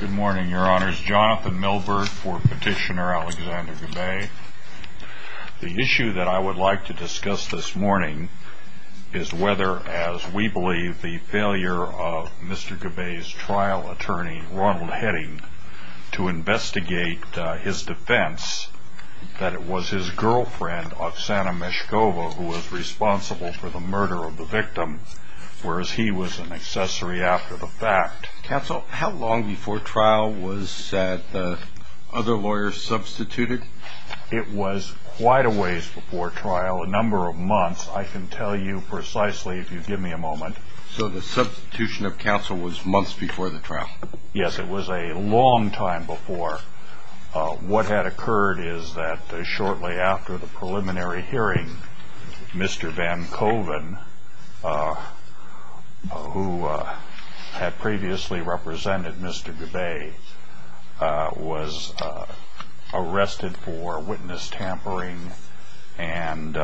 Good morning, your honors. Jonathan Milbert for Petitioner Alexander Gabay. The issue that I would like to discuss this morning is whether, as we believe, the failure of Mr. Gabay's trial attorney, Ronald Heading, to investigate his defense that it was his girlfriend, Oksana Meshkova, who was responsible for the murder of the victim, whereas he was an accessory after the fact. Counsel, how long before trial was that other lawyer substituted? It was quite a ways before trial, a number of months. I can tell you precisely if you give me a moment. So the substitution of counsel was months before the trial? Yes, it was a long time before. What had occurred is that shortly after the preliminary hearing, Mr. Van Coven, who had previously represented Mr. Gabay, was arrested for witness tampering and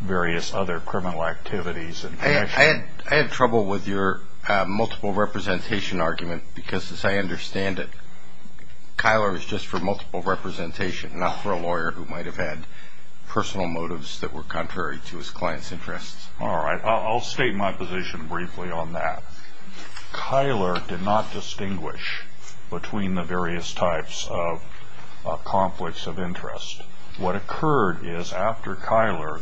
various other criminal activities. I had trouble with your multiple representation argument because, as I understand it, Kyler was just for multiple representation, not for a lawyer who might have had personal motives that were contrary to his client's interests. All right. I'll state my position briefly on that. Kyler did not distinguish between the various types of conflicts of interest. What occurred is, after Kyler,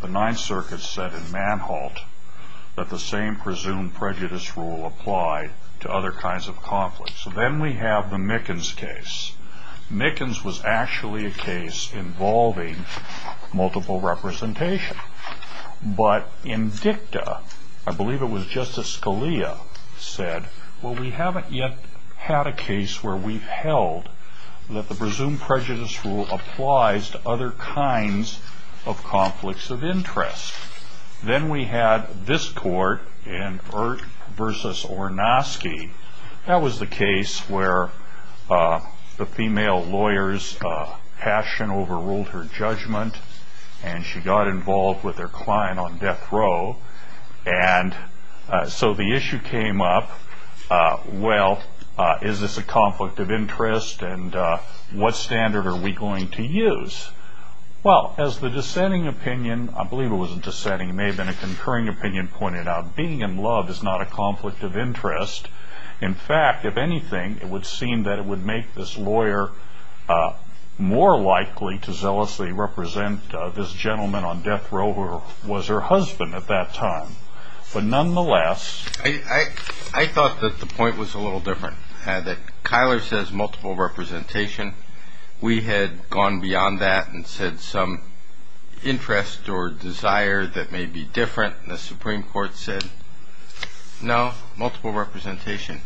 the Ninth Circuit said in Manholt that the same presumed prejudice rule applied to other kinds of conflicts. So then we have the Mickens case. Mickens was actually a case involving multiple representation. But in Dicta, I believe it was Justice Scalia who said, Well, we haven't yet had a case where we've held that the presumed prejudice rule applies to other kinds of conflicts of interest. Then we had this court in Ehrt v. Ornosky. That was the case where the female lawyer's passion overruled her judgment, and she got involved with her client on death row. So the issue came up, well, is this a conflict of interest, and what standard are we going to use? Well, as the dissenting opinion, I believe it was dissenting, it may have been a concurring opinion, pointed out, being in love is not a conflict of interest. In fact, if anything, it would seem that it would make this lawyer more likely to zealously represent this gentleman on death row, who was her husband at that time. I thought that the point was a little different, that Kyler says multiple representation. We had gone beyond that and said some interest or desire that may be different, and the Supreme Court said no, multiple representation.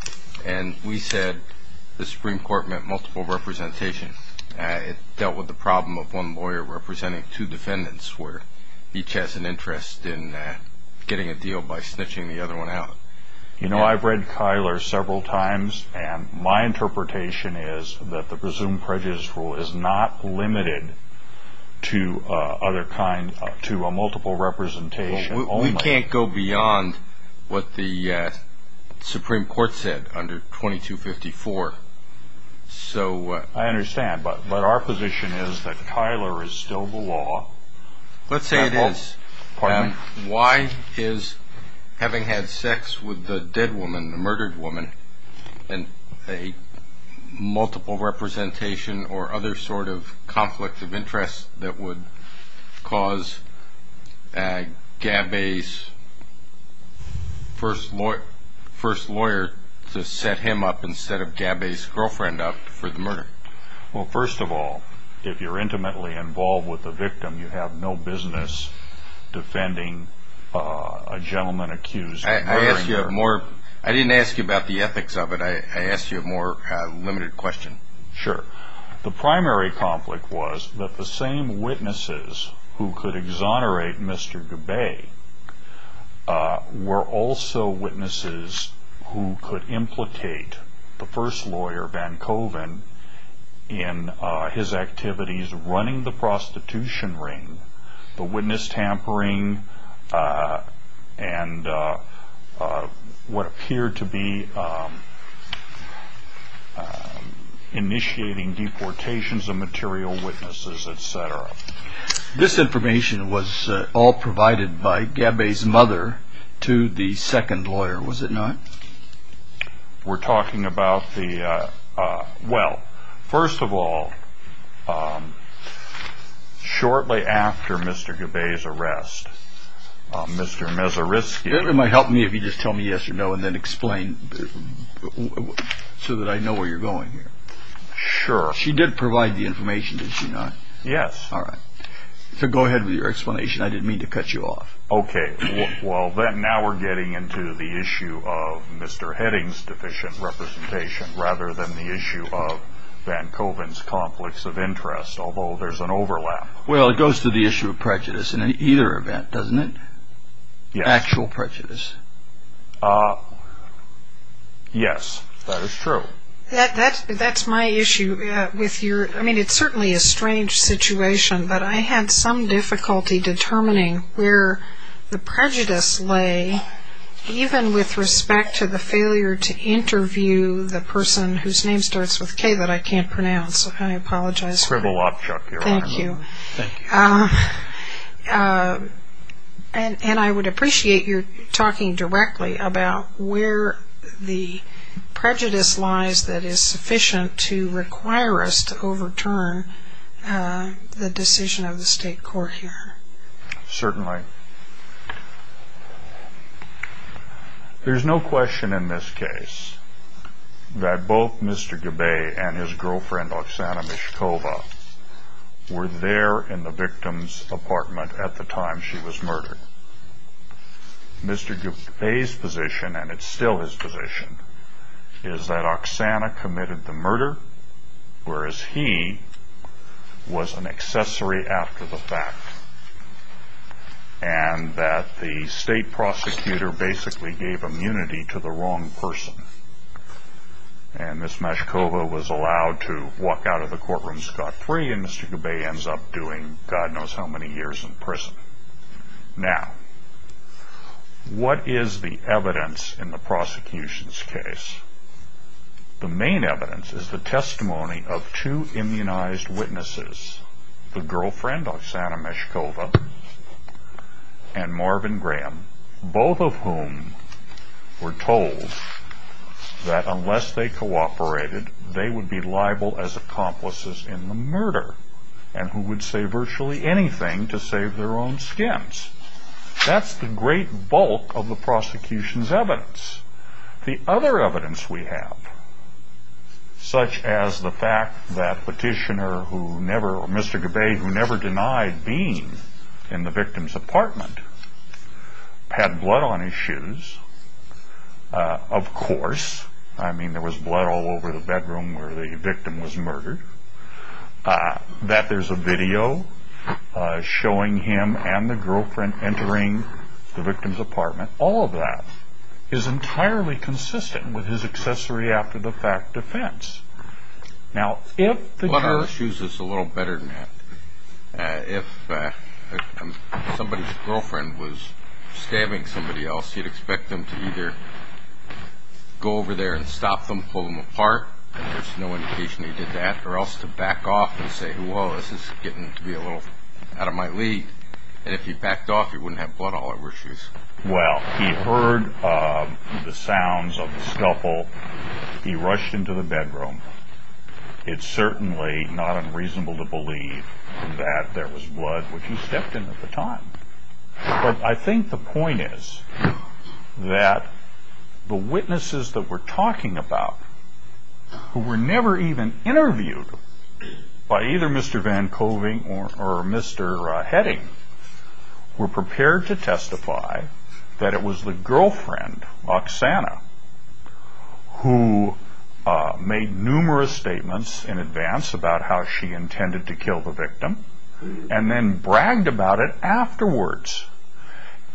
And we said the Supreme Court meant multiple representation. It dealt with the problem of one lawyer representing two defendants, where each has an interest in getting a deal by snitching the other one out. You know, I've read Kyler several times, and my interpretation is that the presumed prejudice rule is not limited to a multiple representation. We can't go beyond what the Supreme Court said under 2254. I understand, but our position is that Kyler is still the law. Let's say it is. Why is having had sex with the dead woman, the murdered woman, and a multiple representation or other sort of conflict of interest that would cause Gabbay's first lawyer to set him up instead of Gabbay's girlfriend up for the murder? Well, first of all, if you're intimately involved with the victim, you have no business defending a gentleman accused of murdering her. I didn't ask you about the ethics of it. I asked you a more limited question. Sure. The primary conflict was that the same witnesses who could exonerate Mr. Gabbay were also witnesses who could implicate the first lawyer, Van Coven, in his activities running the prostitution ring, the witness tampering, and what appeared to be initiating deportations of material witnesses, etc. This information was all provided by Gabbay's mother to the second lawyer, was it not? We're talking about the… Well, first of all, shortly after Mr. Gabbay's arrest, Mr. Mezariski… It might help me if you just tell me yes or no and then explain so that I know where you're going here. Sure. She did provide the information, did she not? Yes. All right. So go ahead with your explanation. I didn't mean to cut you off. Okay. Well, now we're getting into the issue of Mr. Heading's deficient representation rather than the issue of Van Coven's conflicts of interest, although there's an overlap. Well, it goes to the issue of prejudice in either event, doesn't it? Yes. Actual prejudice. Yes, that is true. That's my issue. I mean, it's certainly a strange situation, but I had some difficulty determining where the prejudice lay, even with respect to the failure to interview the person whose name starts with K that I can't pronounce. I apologize. Shrivel up, Chuck. Thank you. And I would appreciate your talking directly about where the prejudice lies that is sufficient to require us to overturn the decision of the state court here. Certainly. There's no question in this case that both Mr. Gabay and his girlfriend, Oksana Mishkova, were there in the victim's apartment at the time she was murdered. Mr. Gabay's position, and it's still his position, is that Oksana committed the murder, whereas he was an accessory after the fact, and that the state prosecutor basically gave immunity to the wrong person. And Miss Mishkova was allowed to walk out of the courtroom scot-free, and Mr. Gabay ends up doing God knows how many years in prison. Now, what is the evidence in the prosecution's case? The main evidence is the testimony of two immunized witnesses, the girlfriend, Oksana Mishkova, and Marvin Graham, both of whom were told that unless they cooperated, they would be liable as accomplices in the murder, and who would say virtually anything to save their own skins. That's the great bulk of the prosecution's evidence. The other evidence we have, such as the fact that Petitioner, or Mr. Gabay, who never denied being in the victim's apartment, had blood on his shoes, of course, I mean there was blood all over the bedroom where the victim was murdered, that there's a video showing him and the girlfriend entering the victim's apartment, all of that is entirely consistent with his accessory after the fact defense. Blood on our shoes is a little better than that. If somebody's girlfriend was stabbing somebody else, you'd expect them to either go over there and stop them, and pull them apart, and there's no indication he did that, or else to back off and say, whoa, this is getting to be a little out of my league. And if he backed off, he wouldn't have blood all over his shoes. Well, he heard the sounds of the scuffle. He rushed into the bedroom. It's certainly not unreasonable to believe that there was blood, which he stepped in at the time. But I think the point is that the witnesses that we're talking about, who were never even interviewed by either Mr. Van Koving or Mr. Heading, were prepared to testify that it was the girlfriend, Oksana, who made numerous statements in advance about how she intended to kill the victim, and then bragged about it afterwards.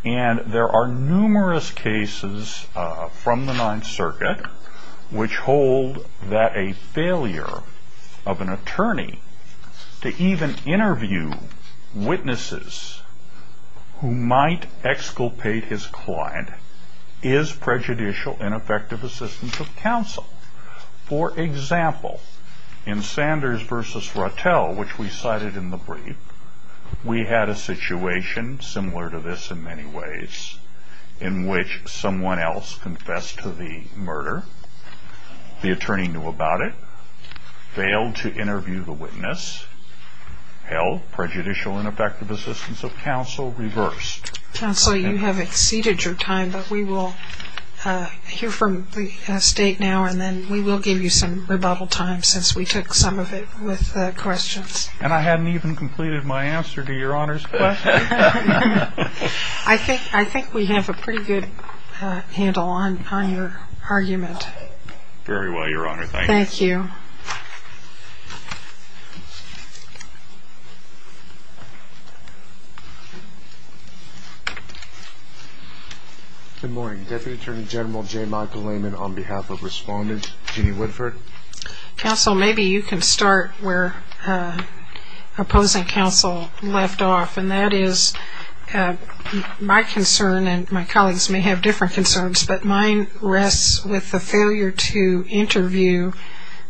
And there are numerous cases from the Ninth Circuit, which hold that a failure of an attorney to even interview witnesses who might exculpate his client is prejudicial in effective assistance of counsel. For example, in Sanders v. Rotell, which we cited in the brief, we had a situation similar to this in many ways, in which someone else confessed to the murder, the attorney knew about it, failed to interview the witness, held prejudicial in effective assistance of counsel, reversed. Counsel, you have exceeded your time, but we will hear from the State now, and then we will give you some rebuttal time since we took some of it with questions. And I hadn't even completed my answer to Your Honor's question. I think we have a pretty good handle on your argument. Very well, Your Honor, thank you. Thank you. Good morning. Deputy Attorney General J. Michael Lehman on behalf of Respondent Jeanne Woodford. Counsel, maybe you can start where opposing counsel left off, and that is my concern, and my colleagues may have different concerns, but mine rests with the failure to interview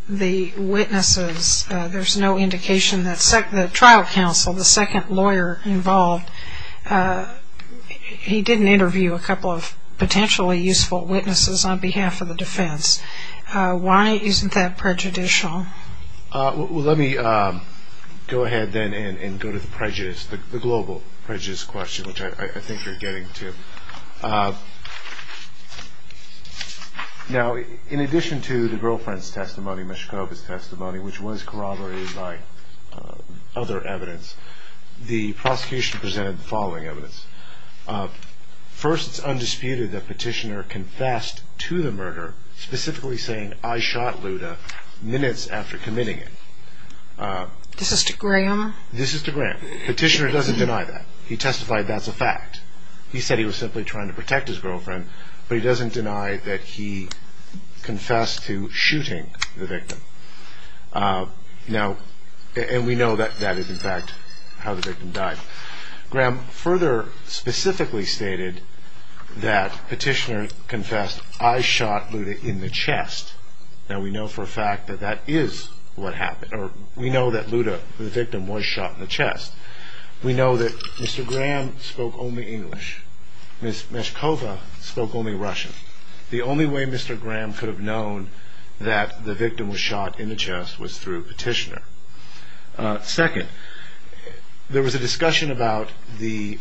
the witnesses. There's no indication that the trial counsel, the second lawyer involved, he didn't interview a couple of potentially useful witnesses on behalf of the defense. Why isn't that prejudicial? Well, let me go ahead then and go to the prejudice, the global prejudice question, which I think you're getting to. Now, in addition to the girlfriend's testimony, Meshkova's testimony, which was corroborated by other evidence, the prosecution presented the following evidence. First, it's undisputed that Petitioner confessed to the murder, specifically saying, I shot Luda minutes after committing it. This is to Graham? This is to Graham. Petitioner doesn't deny that. He testified that's a fact. He said he was simply trying to protect his girlfriend, but he doesn't deny that he confessed to shooting the victim. Now, and we know that that is, in fact, how the victim died. Graham further specifically stated that Petitioner confessed, I shot Luda in the chest. Now, we know for a fact that that is what happened, or we know that Luda, the victim, was shot in the chest. We know that Mr. Graham spoke only English. Ms. Meshkova spoke only Russian. The only way Mr. Graham could have known that the victim was shot in the chest was through Petitioner. Second, there was a discussion about the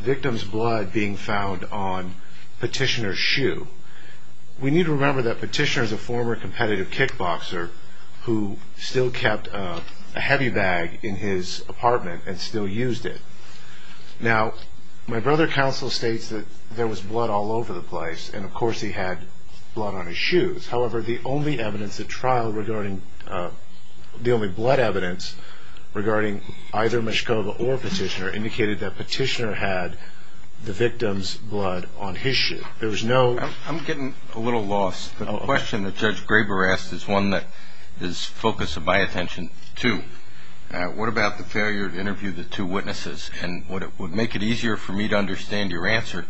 victim's blood being found on Petitioner's shoe. We need to remember that Petitioner is a former competitive kickboxer who still kept a heavy bag in his apartment and still used it. Now, my brother counsel states that there was blood all over the place, and, of course, he had blood on his shoes. However, the only evidence at trial regarding the only blood evidence regarding either Meshkova or Petitioner indicated that Petitioner had the victim's blood on his shoe. I'm getting a little lost. The question that Judge Graber asked is one that is the focus of my attention, too. What about the failure to interview the two witnesses? And what would make it easier for me to understand your answer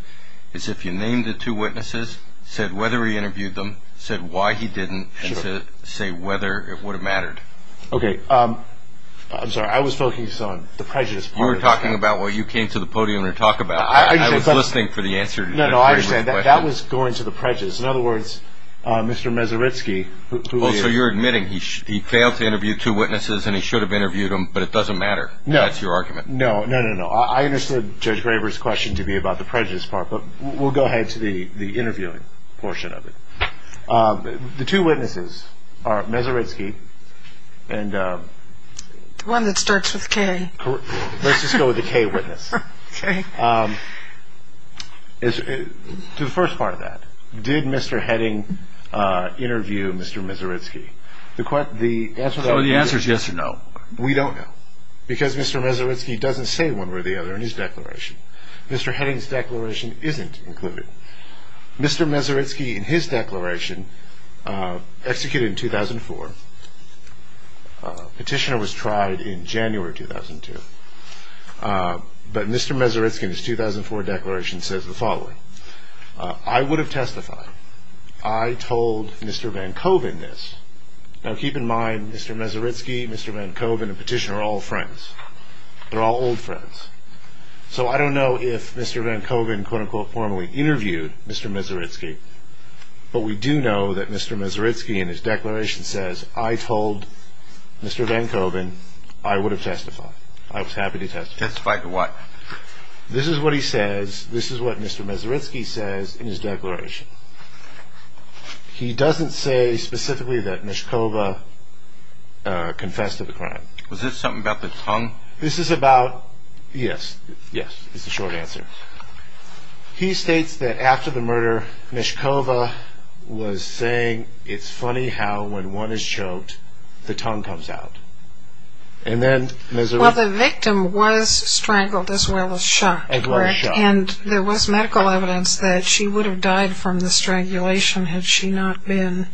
is if you named the two witnesses, said whether he interviewed them, said why he didn't, and say whether it would have mattered. Okay. I'm sorry. I was focused on the prejudice part of this. You were talking about what you came to the podium to talk about. I was listening for the answer to Judge Graber's question. No, no, I understand. That was going to the prejudice. In other words, Mr. Mezaritsky, who he is. Oh, so you're admitting he failed to interview two witnesses and he should have interviewed them, but it doesn't matter. No. That's your argument. No, no, no, no. I understood Judge Graber's question to be about the prejudice part, but we'll go ahead to the interviewing portion of it. The two witnesses are Mezaritsky and… The one that starts with K. Let's just go with the K witness. Okay. To the first part of that, did Mr. Heading interview Mr. Mezaritsky? The answer is yes or no. We don't know because Mr. Mezaritsky doesn't say one way or the other in his declaration. Mr. Heading's declaration isn't included. Mr. Mezaritsky, in his declaration, executed in 2004. Petitioner was tried in January 2002. But Mr. Mezaritsky, in his 2004 declaration, says the following. I would have testified. I told Mr. Van Coven this. Now, keep in mind, Mr. Mezaritsky, Mr. Van Coven, and Petitioner are all friends. They're all old friends. So I don't know if Mr. Van Coven, quote-unquote, formally interviewed Mr. Mezaritsky, but we do know that Mr. Mezaritsky, in his declaration, says, I told Mr. Van Coven I would have testified. I was happy to testify. Testify to what? This is what he says. This is what Mr. Mezaritsky says in his declaration. He doesn't say specifically that Mishkova confessed to the crime. Was this something about the tongue? This is about, yes. Yes, is the short answer. He states that after the murder, Mishkova was saying it's funny how, when one is choked, the tongue comes out. And then Ms. Well, the victim was strangled as well as shot. As well as shot. And there was medical evidence that she would have died from the strangulation had she not been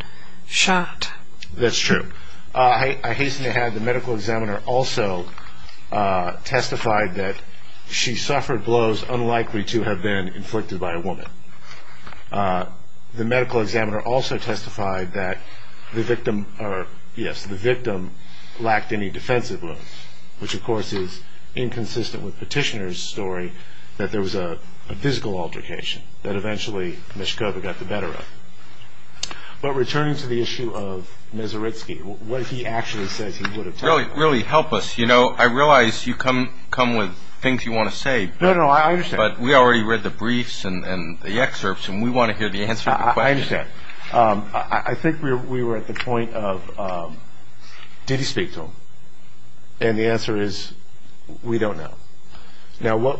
shot. That's true. I hasten to add the medical examiner also testified that she suffered blows unlikely to have been inflicted by a woman. The medical examiner also testified that the victim, yes, the victim lacked any defensive limbs, which, of course, is inconsistent with Petitioner's story, that there was a physical altercation that eventually Mishkova got the better of. But returning to the issue of Mezaritsky, what he actually says he would have told us. Really help us. You know, I realize you come with things you want to say. No, no, I understand. But we already read the briefs and the excerpts, and we want to hear the answer to the question. I understand. I think we were at the point of, did he speak to him? And the answer is, we don't know. Now,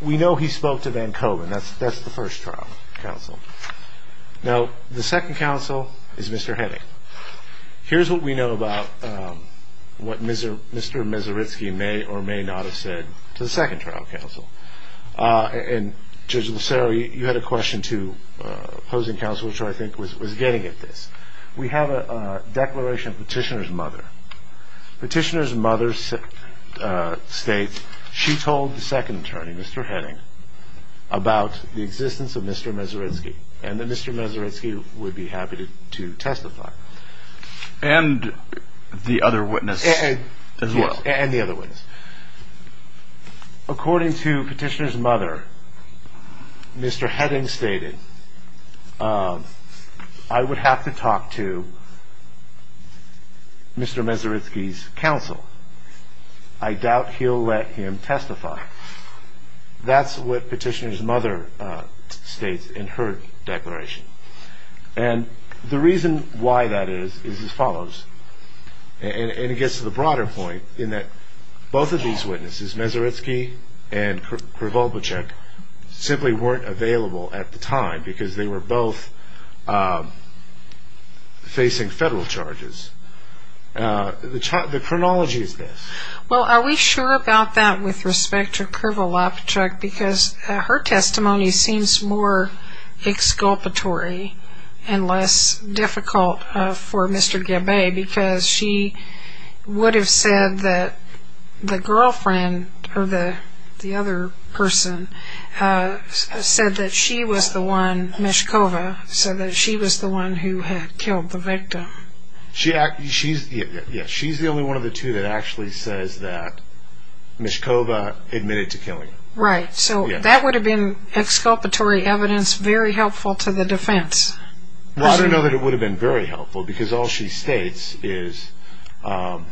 we know he spoke to Van Coven. That's the first trial counsel. Now, the second counsel is Mr. Heving. Here's what we know about what Mr. Mezaritsky may or may not have said to the second trial counsel. And, Judge Lucero, you had a question to opposing counsel, which I think was getting at this. We have a declaration of Petitioner's mother. Petitioner's mother states she told the second attorney, Mr. Heving, about the existence of Mr. Mezaritsky, and that Mr. Mezaritsky would be happy to testify. And the other witness as well. Yes, and the other witness. According to Petitioner's mother, Mr. Heving stated, I would have to talk to Mr. Mezaritsky's counsel. I doubt he'll let him testify. That's what Petitioner's mother states in her declaration. And the reason why that is, is as follows. And it gets to the broader point in that both of these witnesses, Mezaritsky and Krivolopichek, simply weren't available at the time because they were both facing federal charges. The chronology is this. Well, are we sure about that with respect to Krivolopichek? Because her testimony seems more exculpatory and less difficult for Mr. Gebay because she would have said that the girlfriend or the other person said that she was the one, Meshkova, said that she was the one who had killed the victim. She's the only one of the two that actually says that Meshkova admitted to killing him. Right, so that would have been exculpatory evidence very helpful to the defense. Well, I don't know that it would have been very helpful because all she states is... All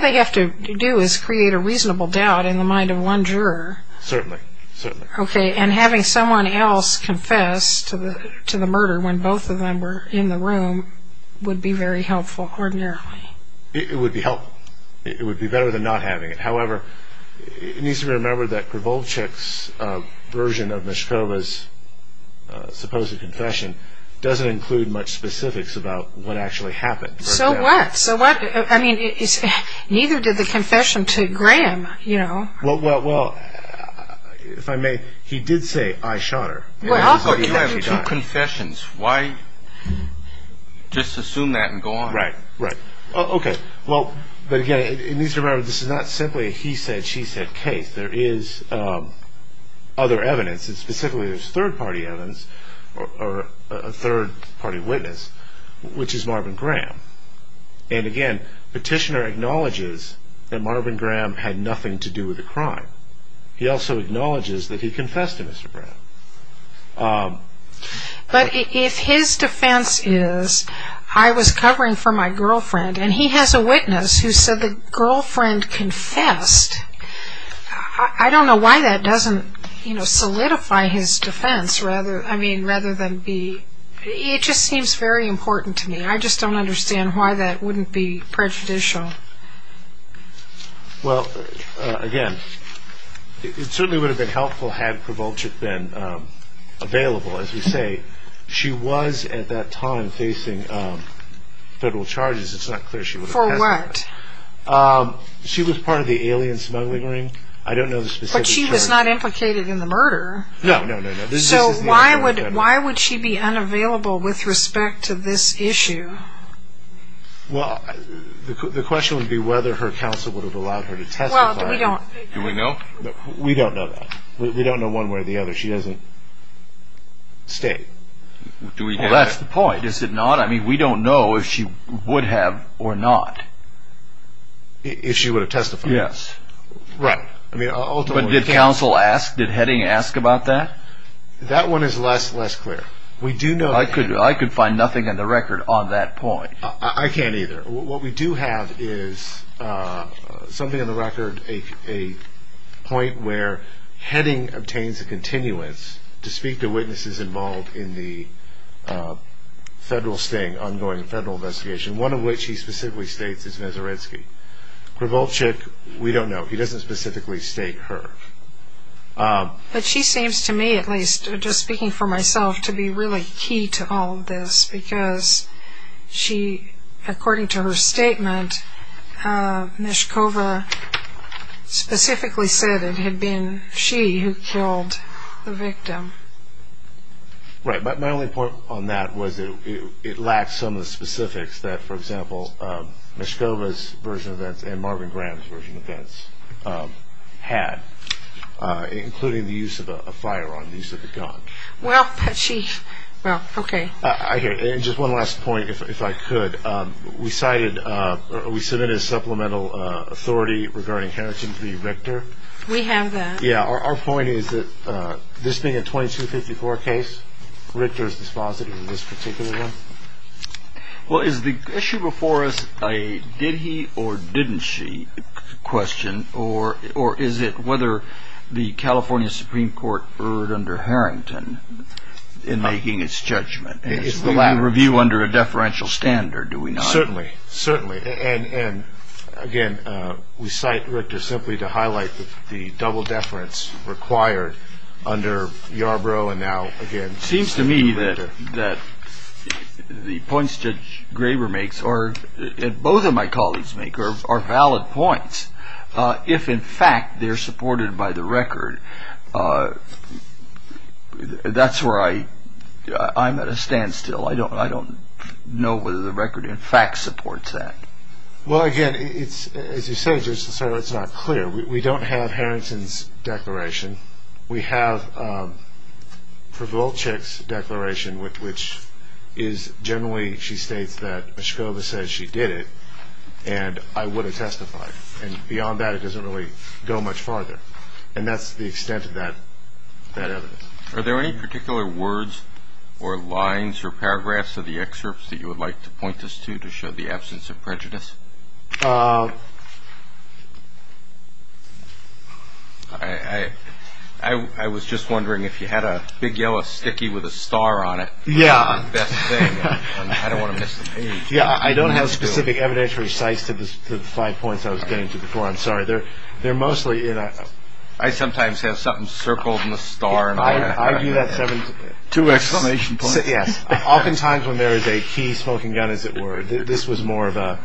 they have to do is create a reasonable doubt in the mind of one juror. Certainly, certainly. Okay, and having someone else confess to the murder when both of them were in the room would be very helpful ordinarily. It would be helpful. It would be better than not having it. However, it needs to be remembered that Krivolopichek's version of Meshkova's supposed confession doesn't include much specifics about what actually happened. So what? I mean, neither did the confession to Graham, you know. Well, if I may, he did say, I shot her. Well, how could he have two confessions? Why just assume that and go on? Right, right. Okay, well, but again, it needs to be remembered this is not simply a he said, she said case. There is other evidence. Specifically, there's third-party evidence or a third-party witness, which is Marvin Graham. And again, Petitioner acknowledges that Marvin Graham had nothing to do with the crime. He also acknowledges that he confessed to Mr. Graham. But if his defense is, I was covering for my girlfriend, and he has a witness who said the girlfriend confessed, I don't know why that doesn't, you know, solidify his defense rather than be, it just seems very important to me. I just don't understand why that wouldn't be prejudicial. Well, again, it certainly would have been helpful had Prowolczyk been available. As we say, she was at that time facing federal charges. It's not clear she was. For what? She was part of the alien smuggling ring. I don't know the specifics. But she was not implicated in the murder. No, no, no, no. So why would she be unavailable with respect to this issue? Well, the question would be whether her counsel would have allowed her to testify. Well, we don't. Do we know? We don't know that. We don't know one way or the other. She doesn't state. Well, that's the point. Is it not? I mean, we don't know if she would have or not. If she would have testified? Yes. Right. But did counsel ask? Did Heading ask about that? That one is less clear. I could find nothing in the record on that point. I can't either. What we do have is something on the record, a point where Heading obtains a continuance to speak to witnesses involved in the federal sting, ongoing federal investigation, one of which he specifically states is Nazarensky. Prowolczyk, we don't know. He doesn't specifically state her. But she seems to me, at least just speaking for myself, to be really key to all of this because she, according to her statement, Mishkova specifically said it had been she who killed the victim. Right. But my only point on that was it lacks some of the specifics that, for example, Mishkova's version of that and Marvin Graham's version of that had, including the use of a firearm, the use of a gun. Well, she, well, okay. Okay. And just one last point, if I could. We cited, we submitted a supplemental authority regarding Harrison v. Richter. We have that. Yeah. Our point is that this being a 2254 case, Richter's dispositive in this particular one. Well, is the issue before us a did he or didn't she question or is it whether the California Supreme Court erred under Harrington in making its judgment? Is the review under a deferential standard? Do we not? Certainly. Certainly. And, again, we cite Richter simply to highlight the double deference required under Yarbrough and now, again, it seems to me that the points Judge Graber makes or both of my colleagues make are valid points. If, in fact, they're supported by the record, that's where I'm at a standstill. I don't know whether the record, in fact, supports that. Well, again, as you said, it's not clear. We don't have Harrington's declaration. We have Przewolczyk's declaration, which is generally she states that Meshkova says she did it and I would have testified. And beyond that, it doesn't really go much farther. And that's the extent of that evidence. Are there any particular words or lines or paragraphs of the excerpts that you would like to point us to to show the absence of prejudice? I was just wondering if you had a big yellow sticky with a star on it. Yeah. I don't want to miss the page. Yeah. I don't have specific evidentiary sites to the five points I was getting to before. I'm sorry. They're mostly in. I sometimes have something circled in the star. I do that. Two exclamation points. Yes. Oftentimes when there is a key smoking gun, as it were, this was more of a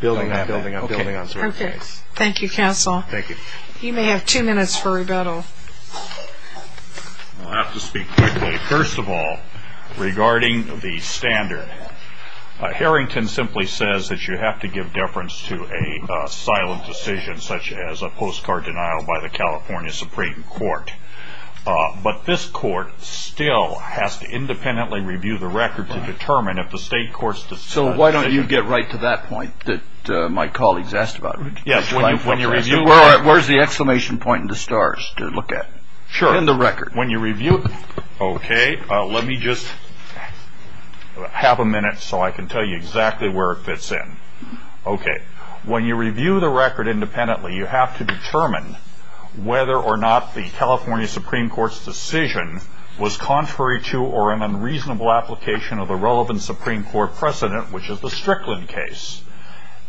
building up, building up, building up. Okay. Thank you, counsel. Thank you. You may have two minutes for rebuttal. I'll have to speak quickly. First of all, regarding the standard, Harrington simply says that you have to give deference to a silent decision such as a postcard denial by the California Supreme Court. But this court still has to independently review the record to determine if the state court's decision. So why don't you get right to that point that my colleagues asked about? Yes. Where's the exclamation point in the stars to look at? Sure. In the record. Okay. Let me just have a minute so I can tell you exactly where it fits in. Okay. When you review the record independently, you have to determine whether or not the California Supreme Court's decision was contrary to or an unreasonable application of the relevant Supreme Court precedent, which is the Strickland case.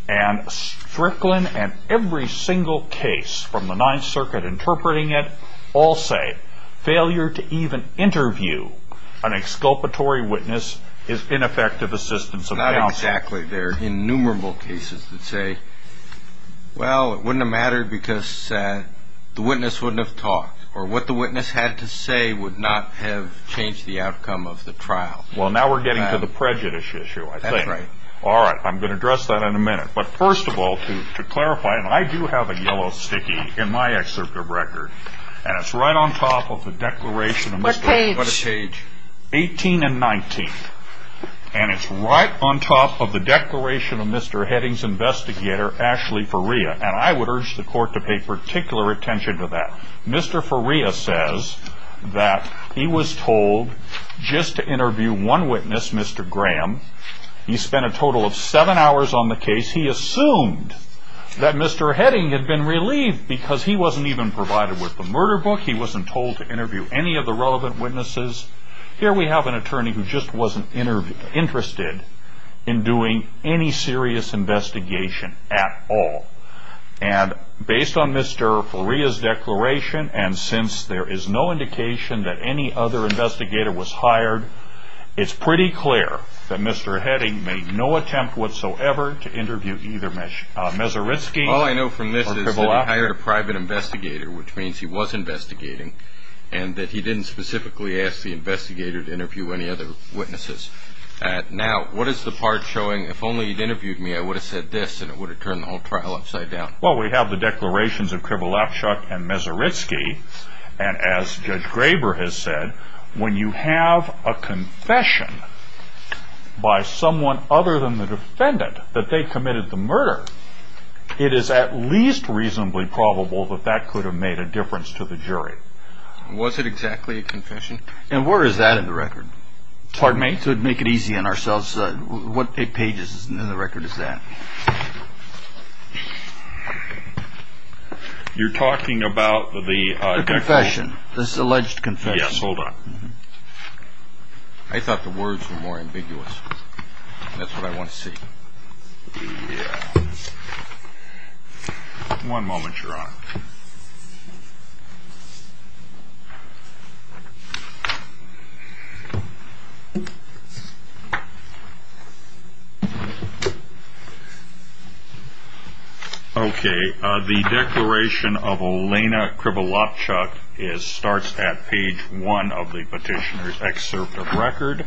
And Strickland and every single case from the Ninth Circuit interpreting it all say failure to even interview an exculpatory witness is ineffective assistance of counsel. Exactly. There are innumerable cases that say, well, it wouldn't have mattered because the witness wouldn't have talked, or what the witness had to say would not have changed the outcome of the trial. Well, now we're getting to the prejudice issue, I think. That's right. All right. I'm going to address that in a minute. But first of all, to clarify, and I do have a yellow sticky in my excerpt of record, and it's right on top of the declaration of Mr. What page? Page 18 and 19. And it's right on top of the declaration of Mr. Heading's investigator, Ashley Faria. And I would urge the court to pay particular attention to that. Mr. Faria says that he was told just to interview one witness, Mr. Graham. He spent a total of seven hours on the case. He assumed that Mr. Heading had been relieved because he wasn't even provided with the murder book. He wasn't told to interview any of the relevant witnesses. Here we have an attorney who just wasn't interested in doing any serious investigation at all. And based on Mr. Faria's declaration, and since there is no indication that any other investigator was hired, it's pretty clear that Mr. Heading made no attempt whatsoever to interview either Mezaritsky. All I know from this is that he hired a private investigator, which means he was investigating, and that he didn't specifically ask the investigator to interview any other witnesses. Now, what is the part showing, if only you'd interviewed me, I would have said this, and it would have turned the whole trial upside down. Well, we have the declarations of Krivolafchuk and Mezaritsky. And as Judge Graber has said, when you have a confession by someone other than the defendant that they committed the murder, it is at least reasonably probable that that could have made a difference to the jury. Was it exactly a confession? And where is that in the record? Pardon me? To make it easy on ourselves, what pages in the record is that? You're talking about the... The confession, this alleged confession. Yes, hold on. I thought the words were more ambiguous. That's what I want to see. Yeah. One moment, Your Honor. Okay, the declaration of Olena Krivolafchuk starts at page one of the petitioner's excerpt of record.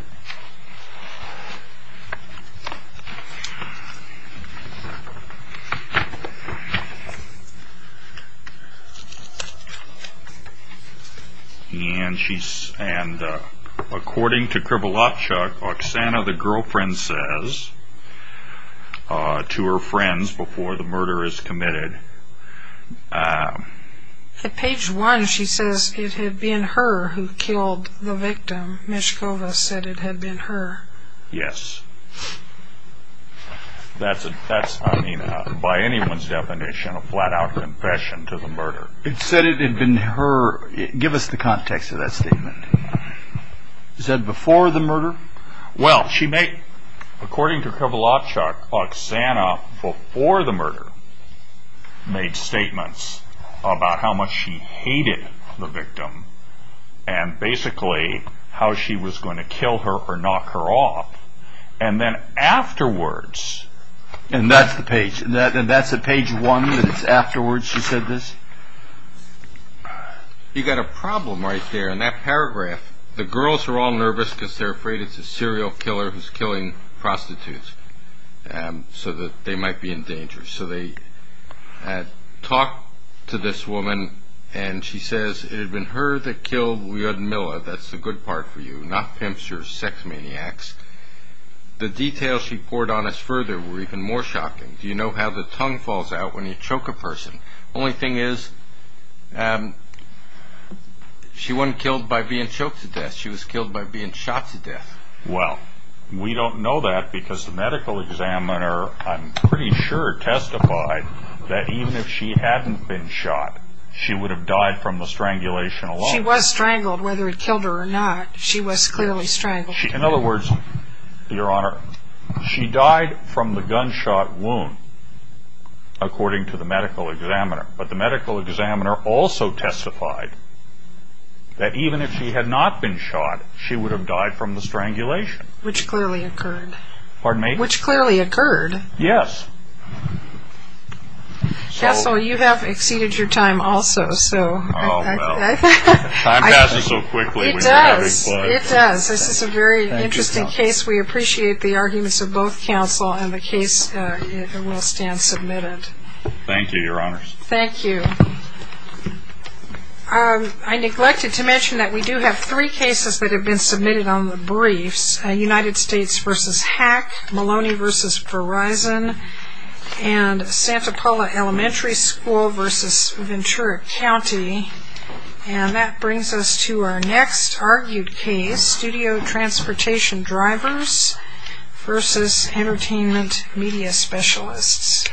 And according to Krivolafchuk, Oksana, the girlfriend, says to her friends before the murder is committed... Yes. That's, I mean, by anyone's definition, a flat-out confession to the murder. It said it had been her... Give us the context of that statement. Is that before the murder? Well, she may... According to Krivolafchuk, Oksana before the murder made statements about how much she hated the victim and basically how she was going to kill her or knock her off. And then afterwards... And that's the page? And that's at page one, that it's afterwards she said this? You've got a problem right there. In that paragraph, the girls are all nervous because they're afraid it's a serial killer who's killing prostitutes so that they might be in danger. So they had talked to this woman and she says, It had been her that killed Lyudmila, that's the good part for you, not pimps or sex maniacs. The details she poured on us further were even more shocking. Do you know how the tongue falls out when you choke a person? Only thing is, she wasn't killed by being choked to death, she was killed by being shot to death. Well, we don't know that because the medical examiner, I'm pretty sure, testified that even if she hadn't been shot, she would have died from the strangulation alone. She was strangled, whether he killed her or not, she was clearly strangled. In other words, Your Honor, she died from the gunshot wound, according to the medical examiner. But the medical examiner also testified that even if she had not been shot, she would have died from the strangulation. Which clearly occurred. Pardon me? Which clearly occurred. Yes. Counsel, you have exceeded your time also. Oh, no. Time passes so quickly when you're having fun. It does. It does. This is a very interesting case. We appreciate the arguments of both counsel and the case will stand submitted. Thank you, Your Honors. Thank you. I neglected to mention that we do have three cases that have been submitted on the briefs. United States v. Hack, Maloney v. Verizon, and Santa Paula Elementary School v. Ventura County. And that brings us to our next argued case, Studio Transportation Drivers v. Entertainment Media Specialists.